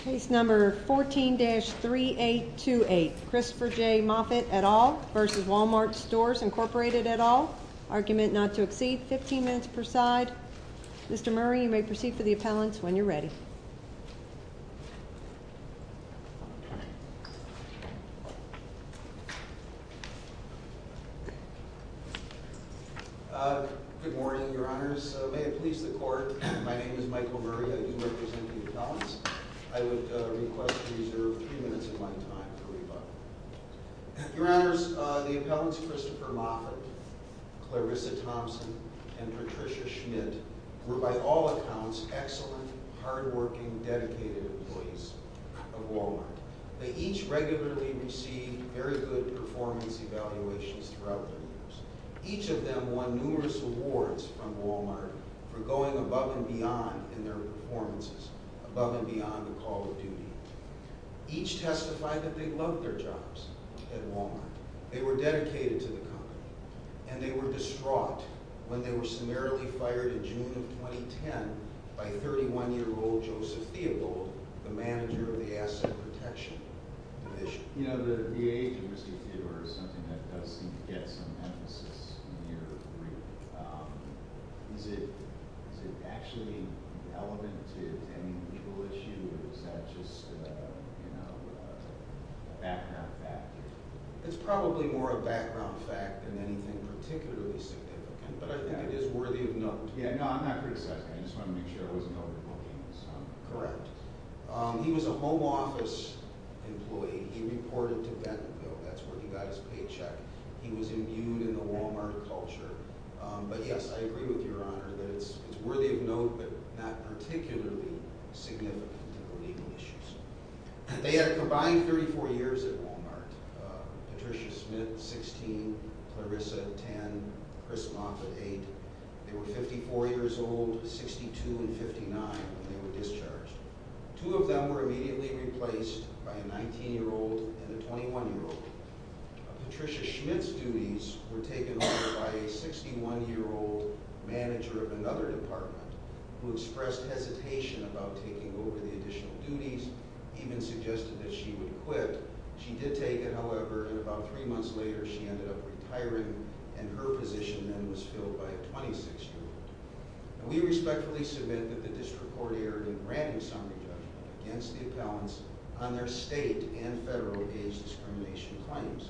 Case number 14-3828, Christopher J. Moffat et al. v. Wal-Mart Stores Incorporated et al. Argument not to exceed 15 minutes per side. Mr. Murray, you may proceed for the appellants when you're ready. Good morning, Your Honors. May it please the Court, my name is Michael Murray. I do represent the appellants. I would request to reserve three minutes of my time for rebuttal. Your Honors, the appellants Christopher Moffat, Clarissa Thompson, and Patricia Schmidt were by all accounts excellent, hardworking, dedicated employees of Wal-Mart. They each regularly received very good performance evaluations throughout their years. Each of them won numerous awards from Wal-Mart for going above and beyond in their performances, above and beyond the call of duty. Each testified that they loved their jobs at Wal-Mart. They were dedicated to the company, and they were distraught when they were summarily fired in June of 2010 by 31-year-old Joseph Theobald, the manager of the Asset Protection Division. You know, the age of risky theater is something that does seem to get some emphasis in your brief. Is it actually relevant to any legal issue, or is that just a background fact? It's probably more a background fact than anything particularly significant, but I think it is worthy of note. Yeah, no, I'm not criticizing. I just wanted to make sure I wasn't overbooking. Correct. He was a home office employee. He reported to Bentonville. That's where he got his paycheck. He was imbued in the Wal-Mart culture. But yes, I agree with Your Honor that it's worthy of note, but not particularly significant to the legal issues. They had combined 34 years at Wal-Mart. Patricia Schmidt, 16, Clarissa, 10, Chris Moffitt, 8. They were 54 years old, 62 and 59 when they were discharged. Two of them were immediately replaced by a 19-year-old and a 21-year-old. Patricia Schmidt's duties were taken over by a 61-year-old manager of another department who expressed hesitation about taking over the additional duties, even suggested that she would quit. She did take it, however, and about three months later, she ended up retiring, and her position then was filled by a 26-year-old. We respectfully submit that the district court erred in granting summary judgment against the appellants on their state and federal age discrimination claims.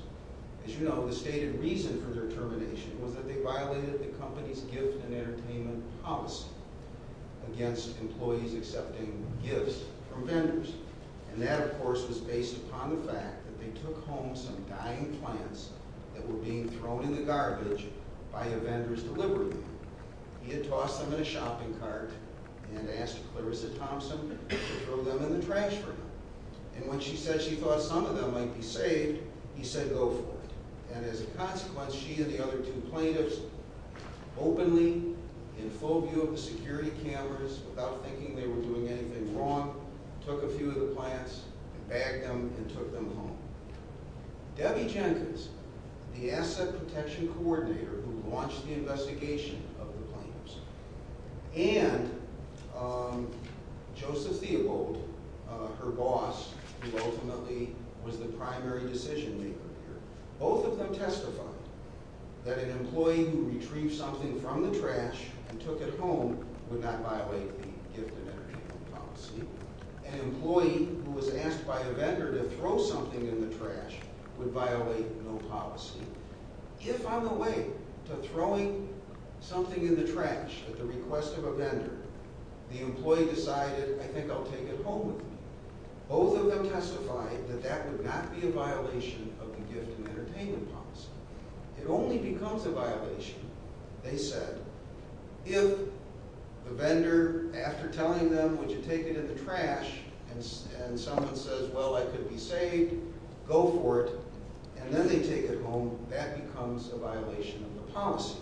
As you know, the stated reason for their termination was that they violated the company's gift and entertainment policy against employees accepting gifts from vendors. And that, of course, was based upon the fact that they took home some dying plants that were being thrown in the garbage by a vendor's delivery man. He had tossed them in a shopping cart and asked Clarissa Thompson to throw them in the trash for him. And when she said she thought some of them might be saved, he said, go for it. And as a consequence, she and the other two plaintiffs openly, in full view of the security cameras, without thinking they were doing anything wrong, took a few of the plants and bagged them and took them home. Debbie Jenkins, the asset protection coordinator who launched the investigation of the plaintiffs, and Joseph Theobald, her boss, who ultimately was the primary decision-maker here, both of them testified that an employee who retrieved something from the trash and took it home would not violate the gift and entertainment policy. An employee who was asked by a vendor to throw something in the trash would violate no policy. If on the way to throwing something in the trash at the request of a vendor, the employee decided, I think I'll take it home with me, both of them testified that that would not be a violation of the gift and entertainment policy. It only becomes a violation, they said, if the vendor, after telling them, would you take it in the trash, and someone says, well, I could be saved, go for it, and then they take it home, that becomes a violation of the policy.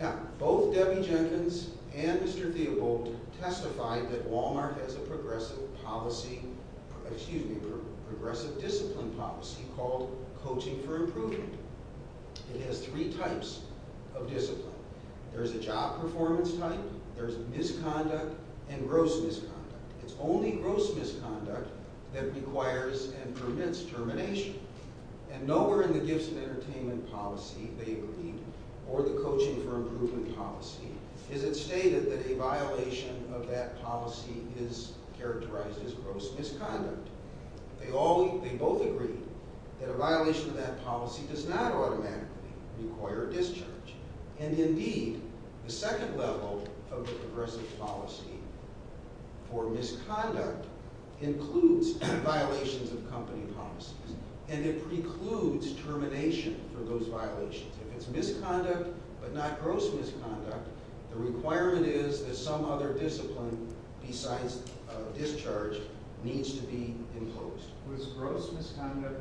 Now, both Debbie Jenkins and Mr. Theobald testified that Walmart has a progressive discipline policy called coaching for improvement. It has three types of discipline. There's a job performance type, there's misconduct, and gross misconduct. It's only gross misconduct that requires and permits termination. And nowhere in the gifts and entertainment policy, they agreed, or the coaching for improvement policy, is it stated that a violation of that policy is characterized as gross misconduct. They both agreed that a violation of that policy does not automatically require discharge. And indeed, the second level of the progressive policy for misconduct includes violations of company policies, and it precludes termination for those violations. If it's misconduct, but not gross misconduct, the requirement is that some other discipline besides discharge needs to be enclosed. Was gross misconduct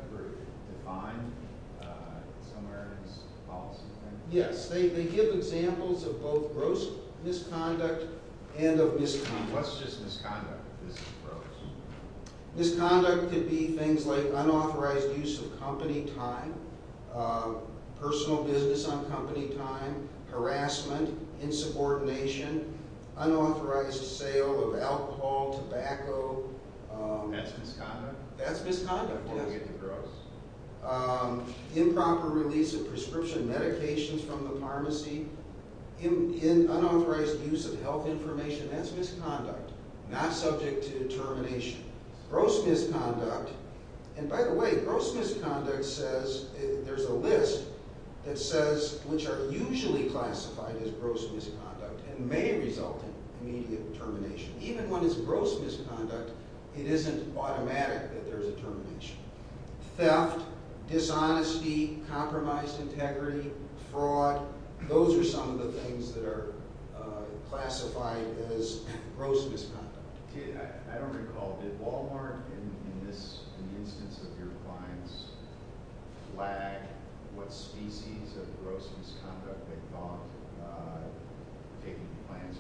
defined somewhere in this policy? Yes. They give examples of both gross misconduct and of misconduct. What's just misconduct if this is gross? Misconduct could be things like unauthorized use of company time, personal business on company time, harassment, insubordination, unauthorized sale of alcohol, tobacco. That's misconduct? That's misconduct. What if it's gross? Improper release of prescription medications from the pharmacy, unauthorized use of health information. That's misconduct. Not subject to termination. Gross misconduct, and by the way, gross misconduct says, there's a list that says, which are usually classified as gross misconduct and may result in immediate termination. Even when it's gross misconduct, it isn't automatic that there's a termination. Theft, dishonesty, compromised integrity, fraud, those are some of the things that are classified as gross misconduct. I don't recall, did Walmart in this instance of your clients flag what species of gross misconduct they thought taking the clients home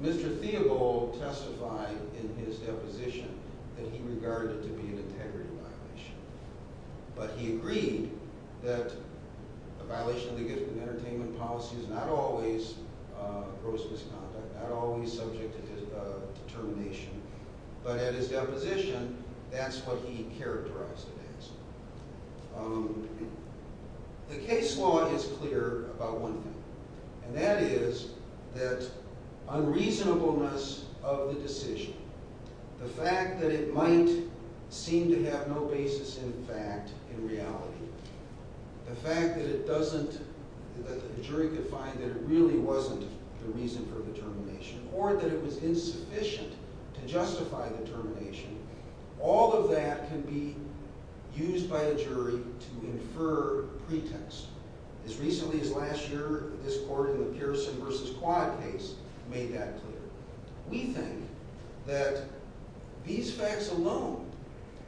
was? Mr. Theobald testified in his deposition that he regarded it to be an integrity violation. But he agreed that a violation of the gift and entertainment policy is not always gross misconduct, not always subject to termination. But at his deposition, that's what he characterized it as. The case law is clear about one thing, and that is that unreasonableness of the decision, the fact that it might seem to have no basis in fact, in reality, the fact that it doesn't, that the jury could find that it really wasn't the reason for the termination, or that it was insufficient to justify the termination, all of that can be used by a jury to infer pretext. As recently as last year, this court in the Pearson v. Quad case made that clear. We think that these facts alone,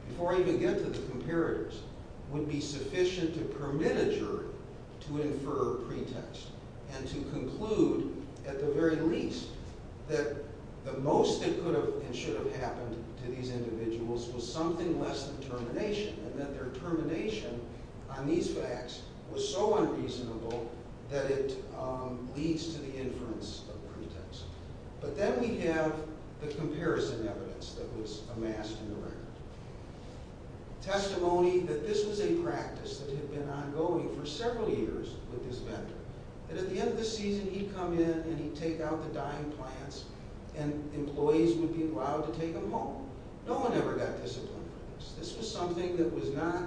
before I even get to the comparators, would be sufficient to permit a jury to infer pretext, and to conclude, at the very least, that the most that could have and should have happened to these individuals was something less than termination, and that their termination on these facts was so unreasonable that it leads to the inference of pretext. But then we have the comparison evidence that was amassed in the record. Testimony that this was a practice that had been ongoing for several years with this vendor. That at the end of the season, he'd come in and he'd take out the dying plants, and employees would be allowed to take them home. No one ever got disciplined for this. This was something that was not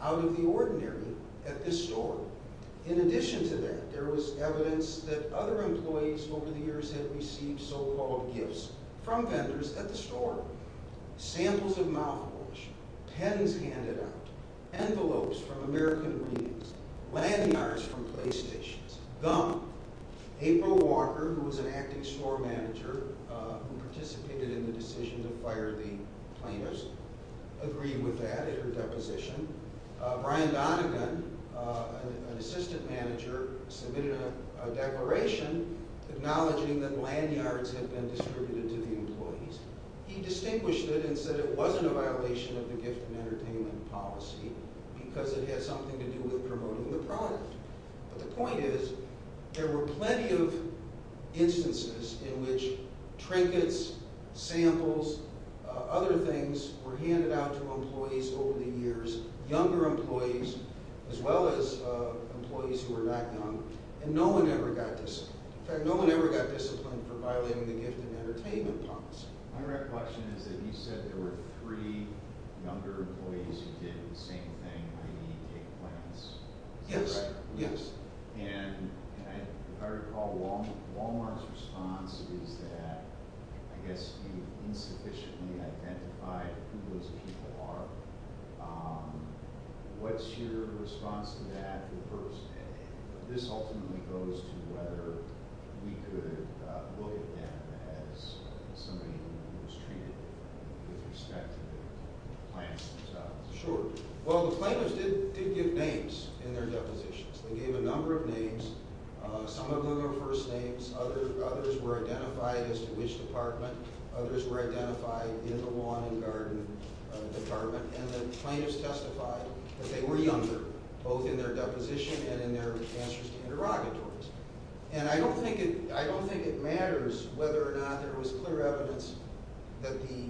out of the ordinary at this store. In addition to that, there was evidence that other employees over the years had received so-called gifts from vendors at the store. Samples of mouthwash, pens handed out, envelopes from American reels, lanyards from playstations, gum. April Walker, who was an acting store manager who participated in the decision to fire the plaintiffs, agreed with that at her deposition. Brian Donagan, an assistant manager, submitted a declaration acknowledging that lanyards had been distributed to the employees. He distinguished it and said it wasn't a violation of the gift and entertainment policy because it had something to do with promoting the product. But the point is, there were plenty of instances in which trinkets, samples, other things were handed out to employees over the years. Younger employees, as well as employees who were not young. And no one ever got disciplined. In fact, no one ever got disciplined for violating the gift and entertainment policy. My recollection is that you said there were three younger employees who did the same thing, i.e., take the plaintiffs. Yes, yes. And if I recall, Walmart's response is that, I guess, you insufficiently identified who those people are. What's your response to that the first day? This ultimately goes to whether we could look at them as somebody who was treated with respect to the plaintiffs themselves. Sure. Well, the plaintiffs did give names in their depositions. They gave a number of names. Some of them were first names. Others were identified as to which department. Others were identified in the lawn and garden department. And the plaintiffs testified that they were younger, both in their deposition and in their answers to interrogatories. And I don't think it matters whether or not there was clear evidence that the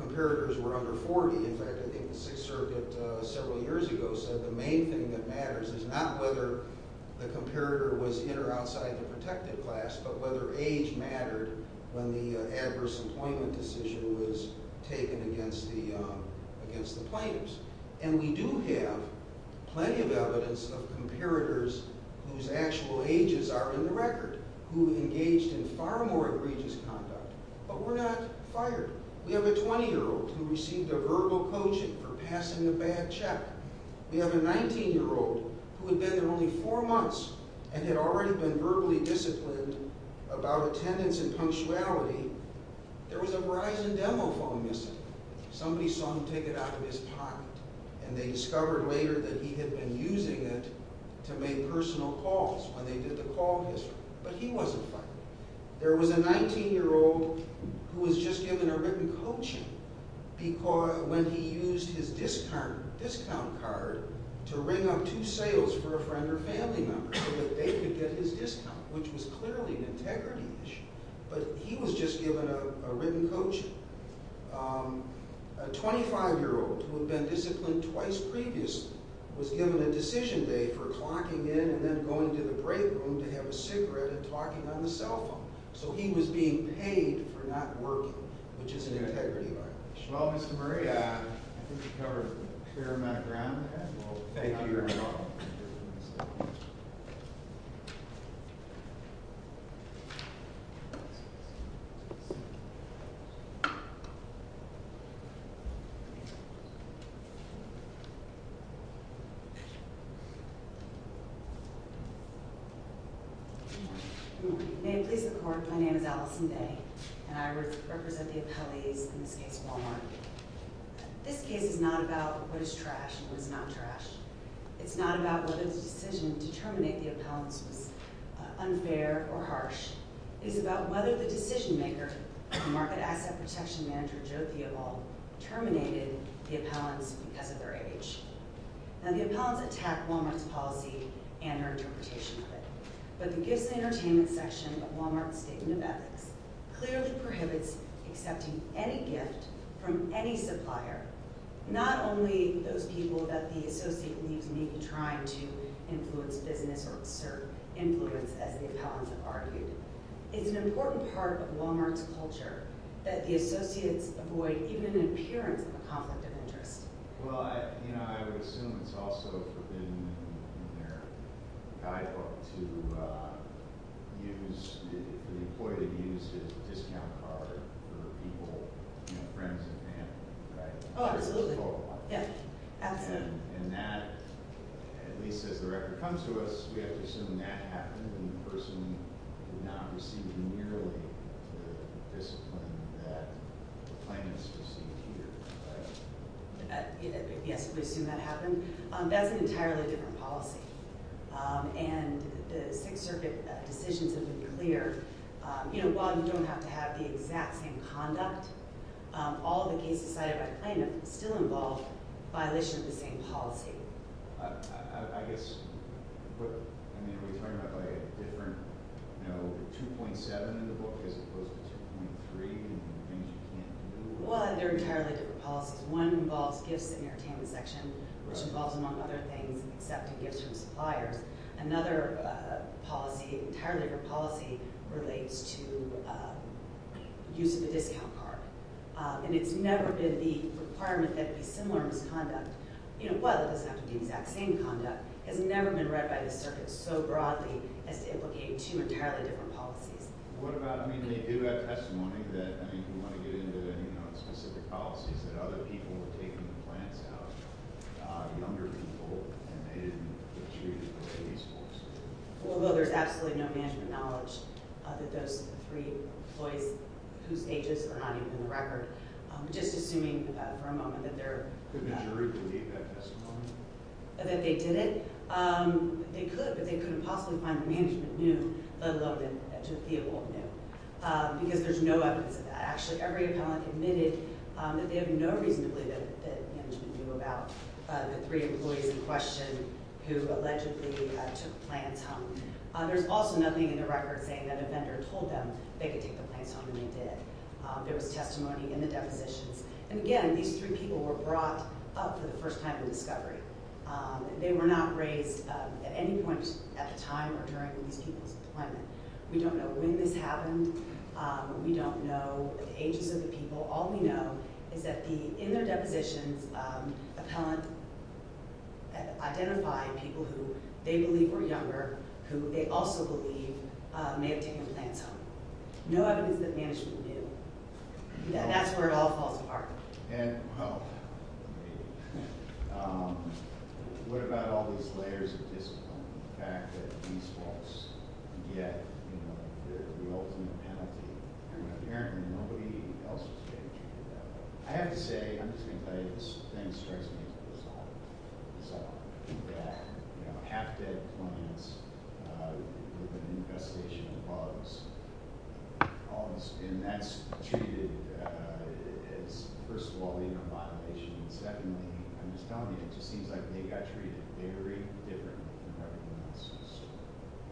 comparators were under 40. In fact, I think the Sixth Circuit several years ago said the main thing that matters is not whether the comparator was in or outside the protected class, but whether age mattered when the adverse employment decision was taken against the plaintiffs. And we do have plenty of evidence of comparators whose actual ages are in the record, who engaged in far more egregious conduct, but were not fired. We have a 20-year-old who received a verbal coaching for passing a bad check. We have a 19-year-old who had been there only four months and had already been verbally disciplined about attendance and punctuality. There was a Verizon demo phone missing. Somebody saw him take it out of his pocket. And they discovered later that he had been using it to make personal calls when they did the call history. But he wasn't fired. There was a 19-year-old who was just given a written coaching when he used his discount card to ring up two sales for a friend or family member, so that they could get his discount, which was clearly an integrity issue. But he was just given a written coaching. A 25-year-old who had been disciplined twice previously was given a decision day for clocking in and then going to the break room to have a cigarette and talking on the cell phone. So he was being paid for not working, which is an integrity violation. Well, Mr. Murray, I think you covered a fair amount of ground. Thank you very much. Good morning. May it please the court, my name is Allison Day, and I represent the appellees in this case of Walmart. This case is not about what is trash and what is not trash. It's not about whether the decision to terminate the appellants was unfair or harsh. It's about whether the decision-maker, Market Asset Protection Manager Joe Theobald, terminated the appellants because of their age. Now, the appellants attacked Walmart's policy and her interpretation of it. But the Gifts and Entertainment section of Walmart's Statement of Ethics clearly prohibits accepting any gift from any supplier, not only those people that the associate believes may be trying to influence business or exert influence, as the appellants have argued. It's an important part of Walmart's culture that the associates avoid even an appearance of a conflict of interest. Well, I would assume it's also forbidden in their guidebook for the employee to use his discount card for people, friends and family, right? Oh, absolutely. And that, at least as the record comes to us, we have to assume that happened and the person did not receive nearly the discipline that the plaintiffs received here, right? Yes, we assume that happened. That's an entirely different policy. And the Sixth Circuit decisions have been clear. You know, while you don't have to have the exact same conduct, all the cases cited by plaintiffs still involve violation of the same policy. I guess, I mean, are we talking about a different, you know, 2.7 in the book as opposed to 2.3 and things you can't do? Well, they're entirely different policies. One involves gifts in the entertainment section, which involves, among other things, accepting gifts from suppliers. Another policy, entirely different policy, relates to use of a discount card. And it's never been the requirement that it be similar misconduct. You know, well, it doesn't have to be the exact same conduct. It's never been read by the circuit so broadly as to implicate two entirely different policies. What about, I mean, they do have testimony that, I mean, if we want to get into, you know, specific policies, that other people were taking the plants out, younger people, and they didn't achieve the same results. Well, there's absolutely no management knowledge that those three employees whose ages are not even in the record. Just assuming for a moment that they're – Could the jury believe that testimony? That they didn't? They could, but they couldn't possibly find that management knew, let alone that Totheo knew. Because there's no evidence of that. Actually, every appellant admitted that they have no reason to believe that management knew about the three employees in question who allegedly took the plants home. There's also nothing in the record saying that a vendor told them they could take the plants home, and they did. There was testimony in the depositions. And, again, these three people were brought up for the first time in discovery. They were not raised at any point at the time or during these people's deployment. We don't know when this happened. We don't know the ages of the people. All we know is that in their depositions, appellant identified people who they believe were younger, who they also believe may have taken the plants home. No evidence that management knew. That's where it all falls apart. And, well, what about all these layers of discipline, the fact that these folks get the ultimate penalty, and apparently nobody else was getting treated that way? I have to say, I'm just going to tell you, this thing strikes me as bizarre. Half-dead plants, infestation of bugs, all of this. And that's treated as, first of all, a violation. And, secondly, I'm just telling you, it just seems like they got treated very differently than everybody else was.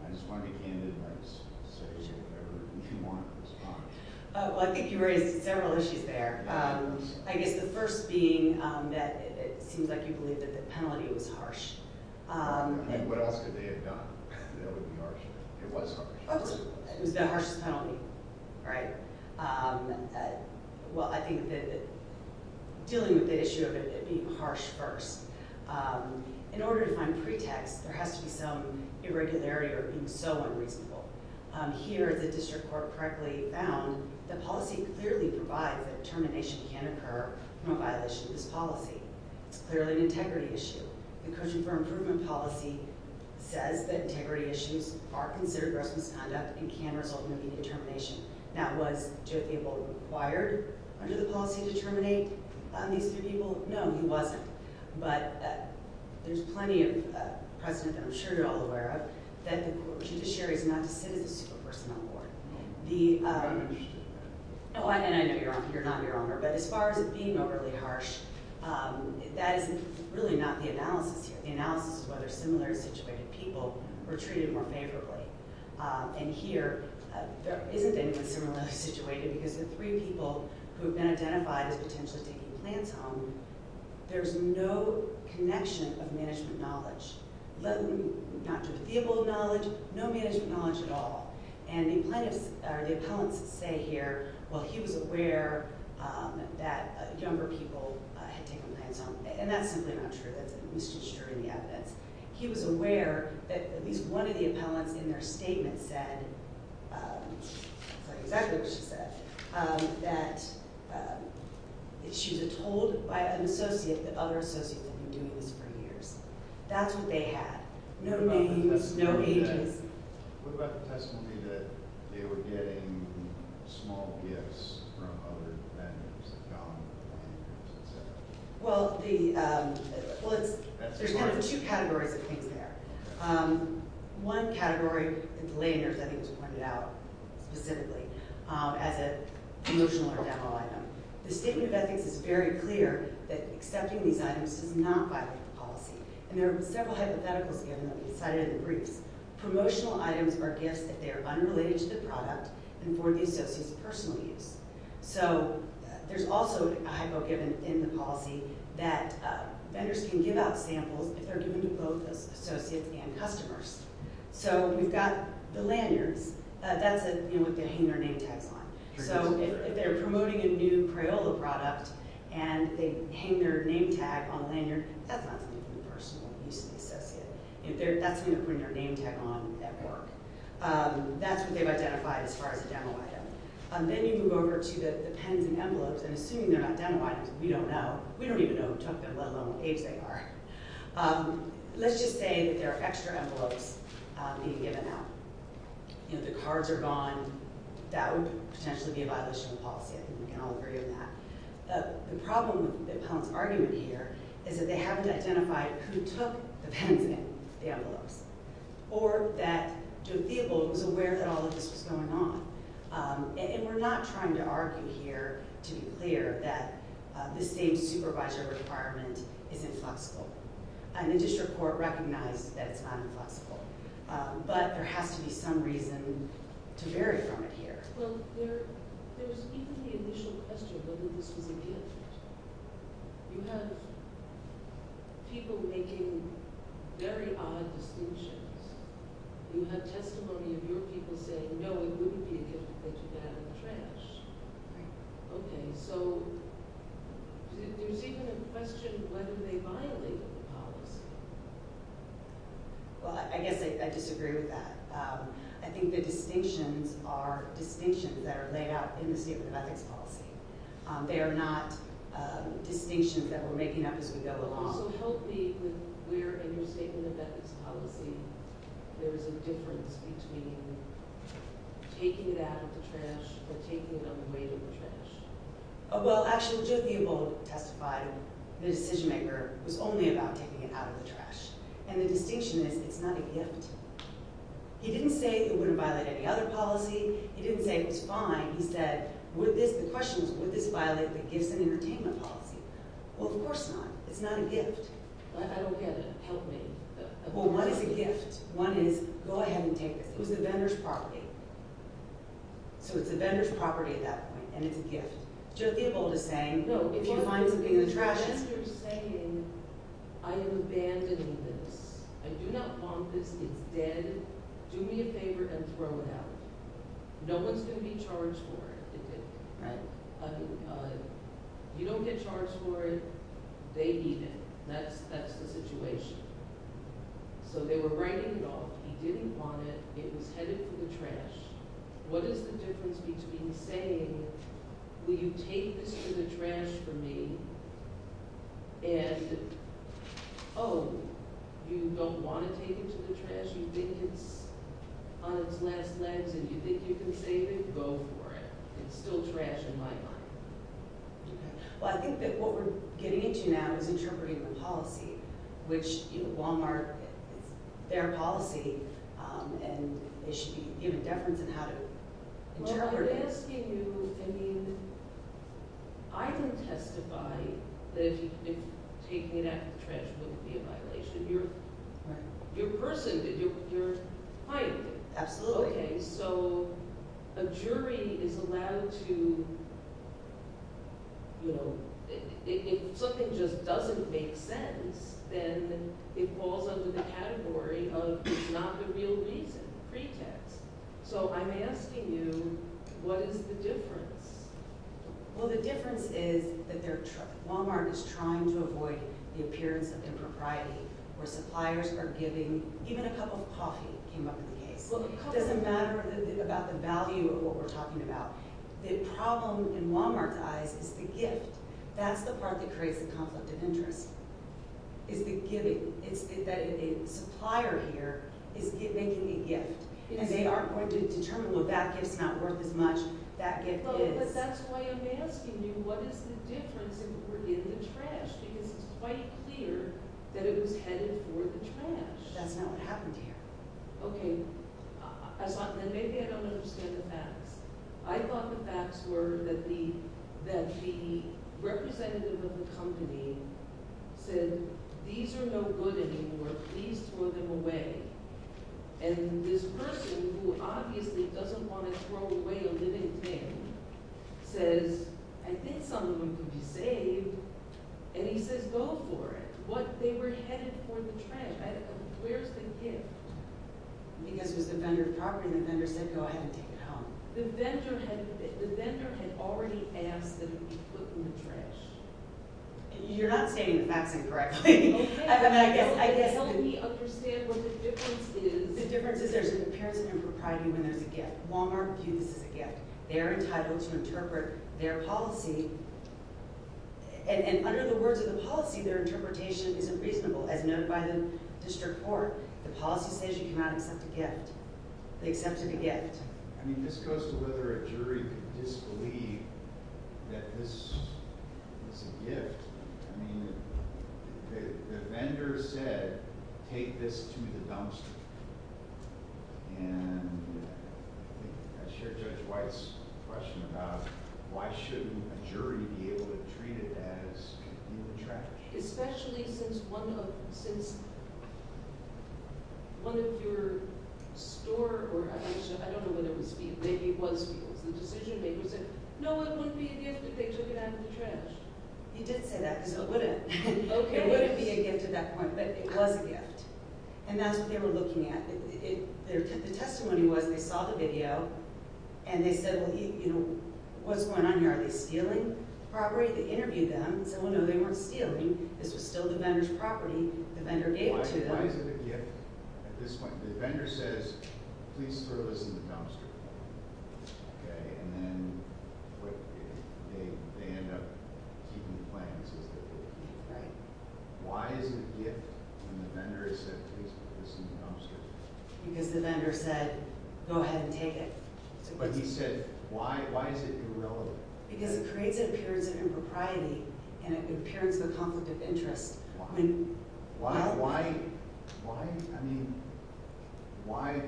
I just want to be candid and say there were two more in response. Oh, well, I think you raised several issues there. I guess the first being that it seems like you believe that the penalty was harsh. And what else could they have done that would be harsh? It was harsh. It was the harshest penalty, right? Well, I think that dealing with the issue of it being harsh first, in order to find pretext, there has to be some irregularity or being so unreasonable. Here, the district court correctly found that policy clearly provides that termination can occur from a violation of this policy. It's clearly an integrity issue. The Coaching for Improvement policy says that integrity issues are considered gross misconduct and can result in immediate termination. Now, was Joe Theobald required under the policy to terminate these three people? No, he wasn't. But there's plenty of precedent that I'm sure you're all aware of that the judiciary is not to sit as a super person on the board. And I know you're not your owner, but as far as it being overly harsh, that is really not the analysis here. The analysis is whether similar situated people were treated more favorably. And here, there isn't anyone similarly situated because the three people who have been identified as potentially taking plans home, there's no connection of management knowledge. Not to Theobald knowledge, no management knowledge at all. And the plaintiffs or the appellants say here, well, he was aware that younger people had taken plans home. And that's simply not true. He was aware that at least one of the appellants in their statement said, sorry, exactly what she said, that she was told by an associate that other associates had been doing this for years. That's what they had. No names, no ages. What about the testimony that they were getting small gifts from other defendants? Well, there's kind of two categories of things there. One category, I think it was pointed out specifically, as a promotional or demo item. The statement of ethics is very clear that accepting these items does not violate the policy. And there are several hypotheticals given that we cited in the briefs. Promotional items are gifts that they are unrelated to the product and for the associate's personal use. So there's also a hypo given in the policy that vendors can give out samples if they're given to both associates and customers. So we've got the lanyards. That's what they hang their name tags on. So if they're promoting a new Crayola product and they hang their name tag on a lanyard, that's not something for the personal use of the associate. That's when they're putting their name tag on at work. That's what they've identified as far as a demo item. Then you move over to the pens and envelopes. And assuming they're not demo items, we don't know. We don't even know who took them, let alone what age they are. Let's just say that there are extra envelopes being given out. You know, the cards are gone. That would potentially be a violation of policy. I think we can all agree on that. The problem with the appellant's argument here is that they haven't identified who took the pens and the envelopes or that Joe Theobald was aware that all of this was going on. And we're not trying to argue here to be clear that the same supervisor requirement is inflexible. And the district court recognized that it's not inflexible. But there has to be some reason to vary from it here. Well, there was even the initial question whether this was a gift. You have people making very odd distinctions. You have testimony of your people saying, no, it wouldn't be a gift if they took it out of the trash. Right. Okay. So there's even a question of whether they violated the policy. Well, I guess I disagree with that. I think the distinctions are distinctions that are laid out in the statement of ethics policy. They are not distinctions that we're making up as we go along. Also, help me with where in your statement of ethics policy there is a difference between taking it out of the trash or taking it on the way to the trash. Well, actually, Joe Theobald testified that the decision-maker was only about taking it out of the trash. And the distinction is it's not a gift. He didn't say it wouldn't violate any other policy. He didn't say it was fine. He said the question is would this violate the gifts and entertainment policy. Well, of course not. It's not a gift. I don't get it. Help me. Well, one is a gift. One is go ahead and take this. It was the vendor's property. So it's the vendor's property at that point, and it's a gift. Joe Theobald is saying if you find something in the trash. No, if you're saying I am abandoning this. I do not want this. It's dead. Do me a favor and throw it out. No one is going to be charged for it. Right. You don't get charged for it. They eat it. That's the situation. So they were writing it off. He didn't want it. It was headed for the trash. What is the difference between saying will you take this to the trash for me and, oh, you don't want to take it to the trash? You think it's on its last legs and you think you can save it? Go for it. It's still trash in my mind. Okay. Well, I think that what we're getting into now is interpreting the policy, which, you know, Walmart, it's their policy, and they should be given deference in how to interpret it. Well, I'm asking you, I mean, I can testify that taking it out of the trash wouldn't be a violation. You're a person. You're hiding it. Absolutely. Okay. So a jury is allowed to, you know, if something just doesn't make sense, then it falls under the category of it's not the real reason, pretext. So I'm asking you, what is the difference? Well, the difference is that Walmart is trying to avoid the appearance of impropriety where suppliers are giving, even a cup of coffee came up in the case. It doesn't matter about the value of what we're talking about. The problem in Walmart's eyes is the gift. That's the part that creates the conflict of interest, is the giving. It's that a supplier here is making a gift, and they aren't going to determine, well, that gift's not worth as much. No, but that's why I'm asking you, what is the difference if it were in the trash? Because it's quite clear that it was headed for the trash. That's not what happened here. Okay. And maybe I don't understand the facts. I thought the facts were that the representative of the company said, these are no good anymore. Please throw them away. And this person, who obviously doesn't want to throw away a living thing, says, I think some of them could be saved. And he says, go for it. But they were headed for the trash. Where's the gift? Because it was the vendor of property. The vendor said, go ahead and take it home. The vendor had already asked that it be put in the trash. You're not stating the facts incorrectly. Okay. Help me understand what the difference is. The difference is there's a comparison in propriety when there's a gift. Walmart views this as a gift. They're entitled to interpret their policy. And under the words of the policy, their interpretation isn't reasonable. As noted by the district court, the policy says you cannot accept a gift. They accepted a gift. I mean, the vendor said, take this to the dumpster. And I think I shared Judge White's question about why shouldn't a jury be able to treat it as a gift in the trash? Especially since one of your store or I don't know what it was, maybe it was feels, the decision makers said, no, it wouldn't be a gift if they took it out of the trash. You did say that because it wouldn't. It wouldn't be a gift at that point, but it was a gift. And that's what they were looking at. The testimony was they saw the video and they said, well, you know, what's going on here? Are they stealing property? They interviewed them and said, well, no, they weren't stealing. This was still the vendor's property. The vendor gave it to them. Why is it a gift at this point? The vendor says, please throw this in the dumpster. And then they end up keeping the plans. Why is it a gift when the vendor has said, please put this in the dumpster? Because the vendor said, go ahead and take it. But he said, why is it irrelevant? Because it creates an appearance of impropriety and an appearance of a conflict of interest. Why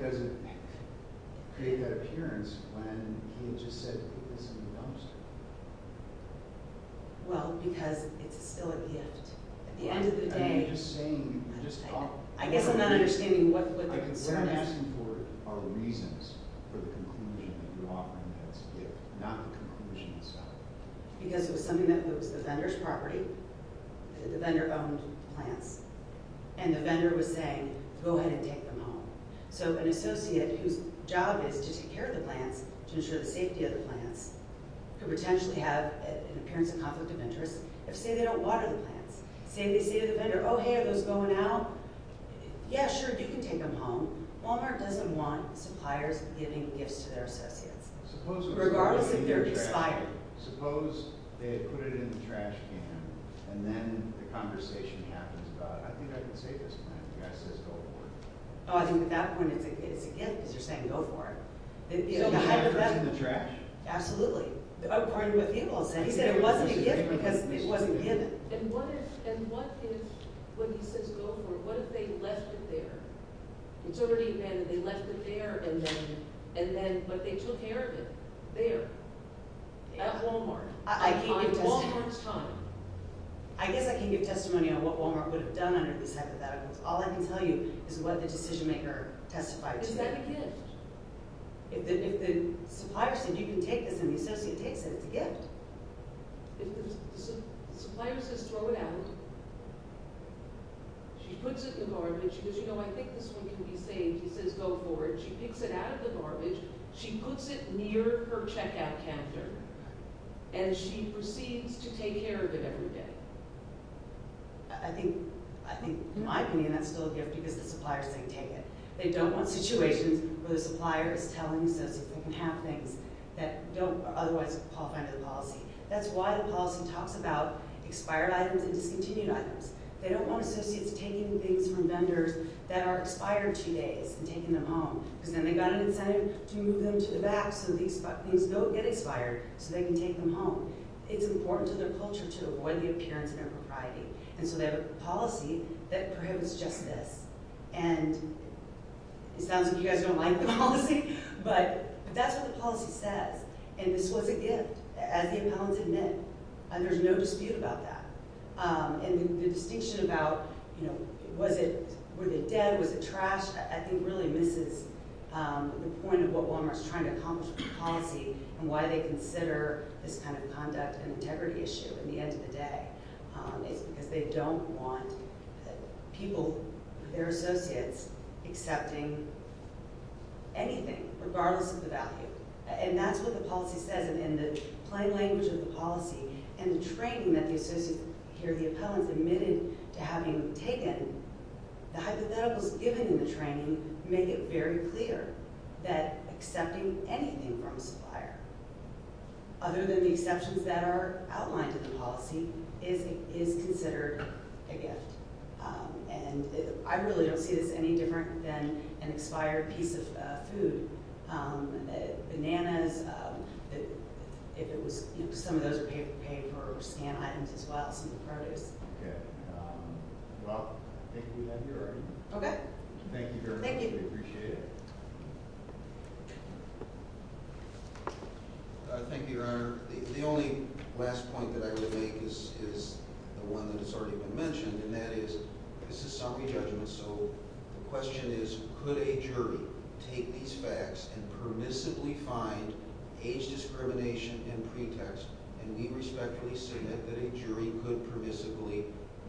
does it create that appearance when he just said, put this in the dumpster? Well, because it's still a gift. At the end of the day, I guess I'm not understanding what the concern is. What I'm asking for are reasons for the conclusion that you're offering that it's a gift, not the conclusion itself. Because it was something that was the vendor's property. The vendor owned the plants. And the vendor was saying, go ahead and take them home. So an associate whose job is to take care of the plants, to ensure the safety of the plants, could potentially have an appearance of conflict of interest if, say, they don't water the plants. Say they say to the vendor, oh, hey, are those going out? Yeah, sure, you can take them home. Walmart doesn't want suppliers giving gifts to their associates. Regardless if they're a supplier. Suppose they had put it in the trash can, and then the conversation happens about, I think I can save this plant. The guy says, go for it. Oh, I think at that point it's a gift because you're saying, go for it. So he put it in the trash? Absolutely. According to what he will say. He said it wasn't a gift because it wasn't given. And what if when he says, go for it, what if they left it there? It's already been, they left it there, but they took care of it there at Walmart. At Walmart's time. I guess I can give testimony on what Walmart would have done under these hypotheticals. All I can tell you is what the decision maker testified to. Is that a gift? If the supplier said, you can take this, and the associate takes it, it's a gift. If the supplier says, throw it out, she puts it in the garbage. She goes, you know, I think this one can be saved. He says, go for it. She picks it out of the garbage. She puts it near her checkout counter. And she proceeds to take care of it every day. I think, in my opinion, that's still a gift because the supplier's saying, take it. They don't want situations where the supplier is telling associates they can have things that don't otherwise qualify under the policy. That's why the policy talks about expired items and discontinued items. They don't want associates taking things from vendors that are expired two days and taking them home. Because then they've got an incentive to move them to the back so these things don't get expired so they can take them home. It's important to their culture to avoid the appearance of impropriety. And so they have a policy that prohibits just this. And it sounds like you guys don't like the policy, but that's what the policy says. And this was a gift, as the appellants admit. And there's no dispute about that. And the distinction about, you know, was it dead, was it trashed, I think really misses the point of what Walmart's trying to accomplish with the policy and why they consider this kind of conduct an integrity issue at the end of the day. It's because they don't want people, their associates, accepting anything, regardless of the value. And that's what the policy says. And in the plain language of the policy and the training that the associates here, the appellants admitted to having taken, the hypotheticals given in the training make it very clear that accepting anything from a supplier, other than the exceptions that are outlined in the policy, is considered a gift. And I really don't see this any different than an expired piece of food. Bananas, if it was, you know, some of those are paid for scan items as well, some of the produce. Okay. Well, I think we have your argument. Okay. Thank you very much. Thank you. We appreciate it. Thank you, Your Honor. The only last point that I would make is the one that has already been mentioned, and that is this is sophie judgment, so the question is, could a jury take these facts and permissibly find age discrimination in pretext? And we respectfully submit that a jury could permissibly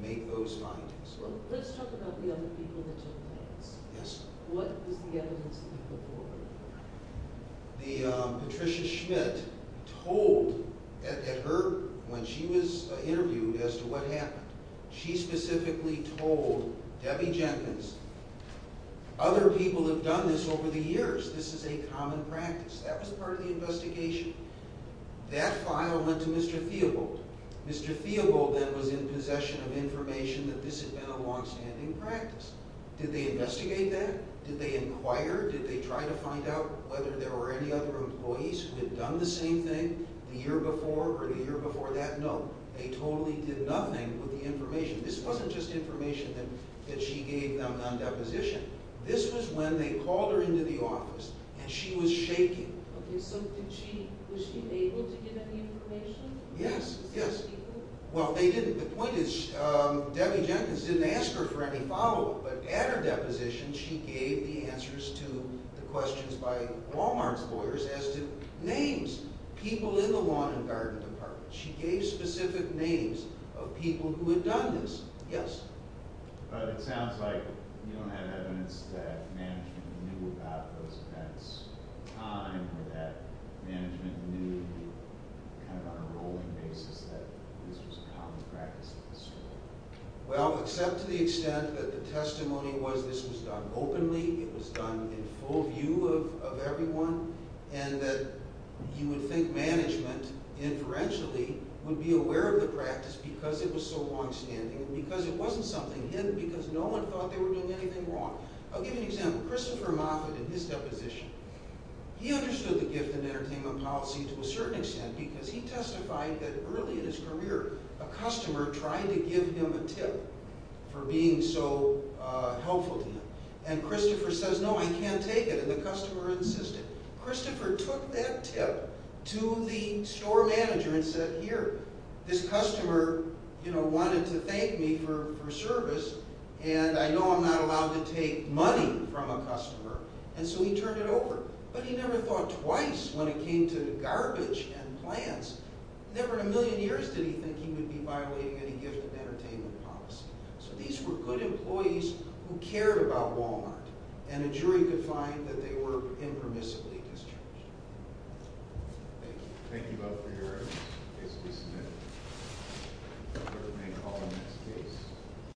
make those findings. Well, let's talk about the other people that took facts. Yes. What was the evidence that you put forward? Patricia Schmidt told at her, when she was interviewed as to what happened, she specifically told Debbie Jenkins, other people have done this over the years. This is a common practice. That was part of the investigation. That file went to Mr. Theobald. Mr. Theobald then was in possession of information that this had been a longstanding practice. Did they investigate that? Did they inquire? Did they try to find out whether there were any other employees who had done the same thing the year before or the year before that? No. They totally did nothing with the information. This wasn't just information that she gave them on deposition. This was when they called her into the office, and she was shaking. Okay, so was she able to get any information? Yes, yes. Well, they didn't. The point is Debbie Jenkins didn't ask her for any follow-up, but at her deposition she gave the answers to the questions by Walmart's lawyers as to names, people in the lawn and garden department. She gave specific names of people who had done this. Yes? It sounds like you don't have evidence that management knew about those events at the time or that management knew kind of on a rolling basis that this was a common practice at the school. Well, except to the extent that the testimony was this was done openly, it was done in full view of everyone, and that you would think management, inferentially, would be aware of the practice because it was so longstanding and because it wasn't something hidden because no one thought they were doing anything wrong. I'll give you an example. Christopher Moffitt, in his deposition, he understood the gift and entertainment policy to a certain extent because he testified that early in his career a customer tried to give him a tip for being so helpful to him, and Christopher says, No, I can't take it, and the customer insisted. Christopher took that tip to the store manager and said, Here, this customer wanted to thank me for service, and I know I'm not allowed to take money from a customer, and so he turned it over. But he never thought twice when it came to garbage and plants. Never in a million years did he think he would be violating any gift and entertainment policy. So these were good employees who cared about Walmart, and a jury could find that they were impermissibly discharged. Thank you. Thank you both for your evidence. Case will be submitted. The court may call the next case.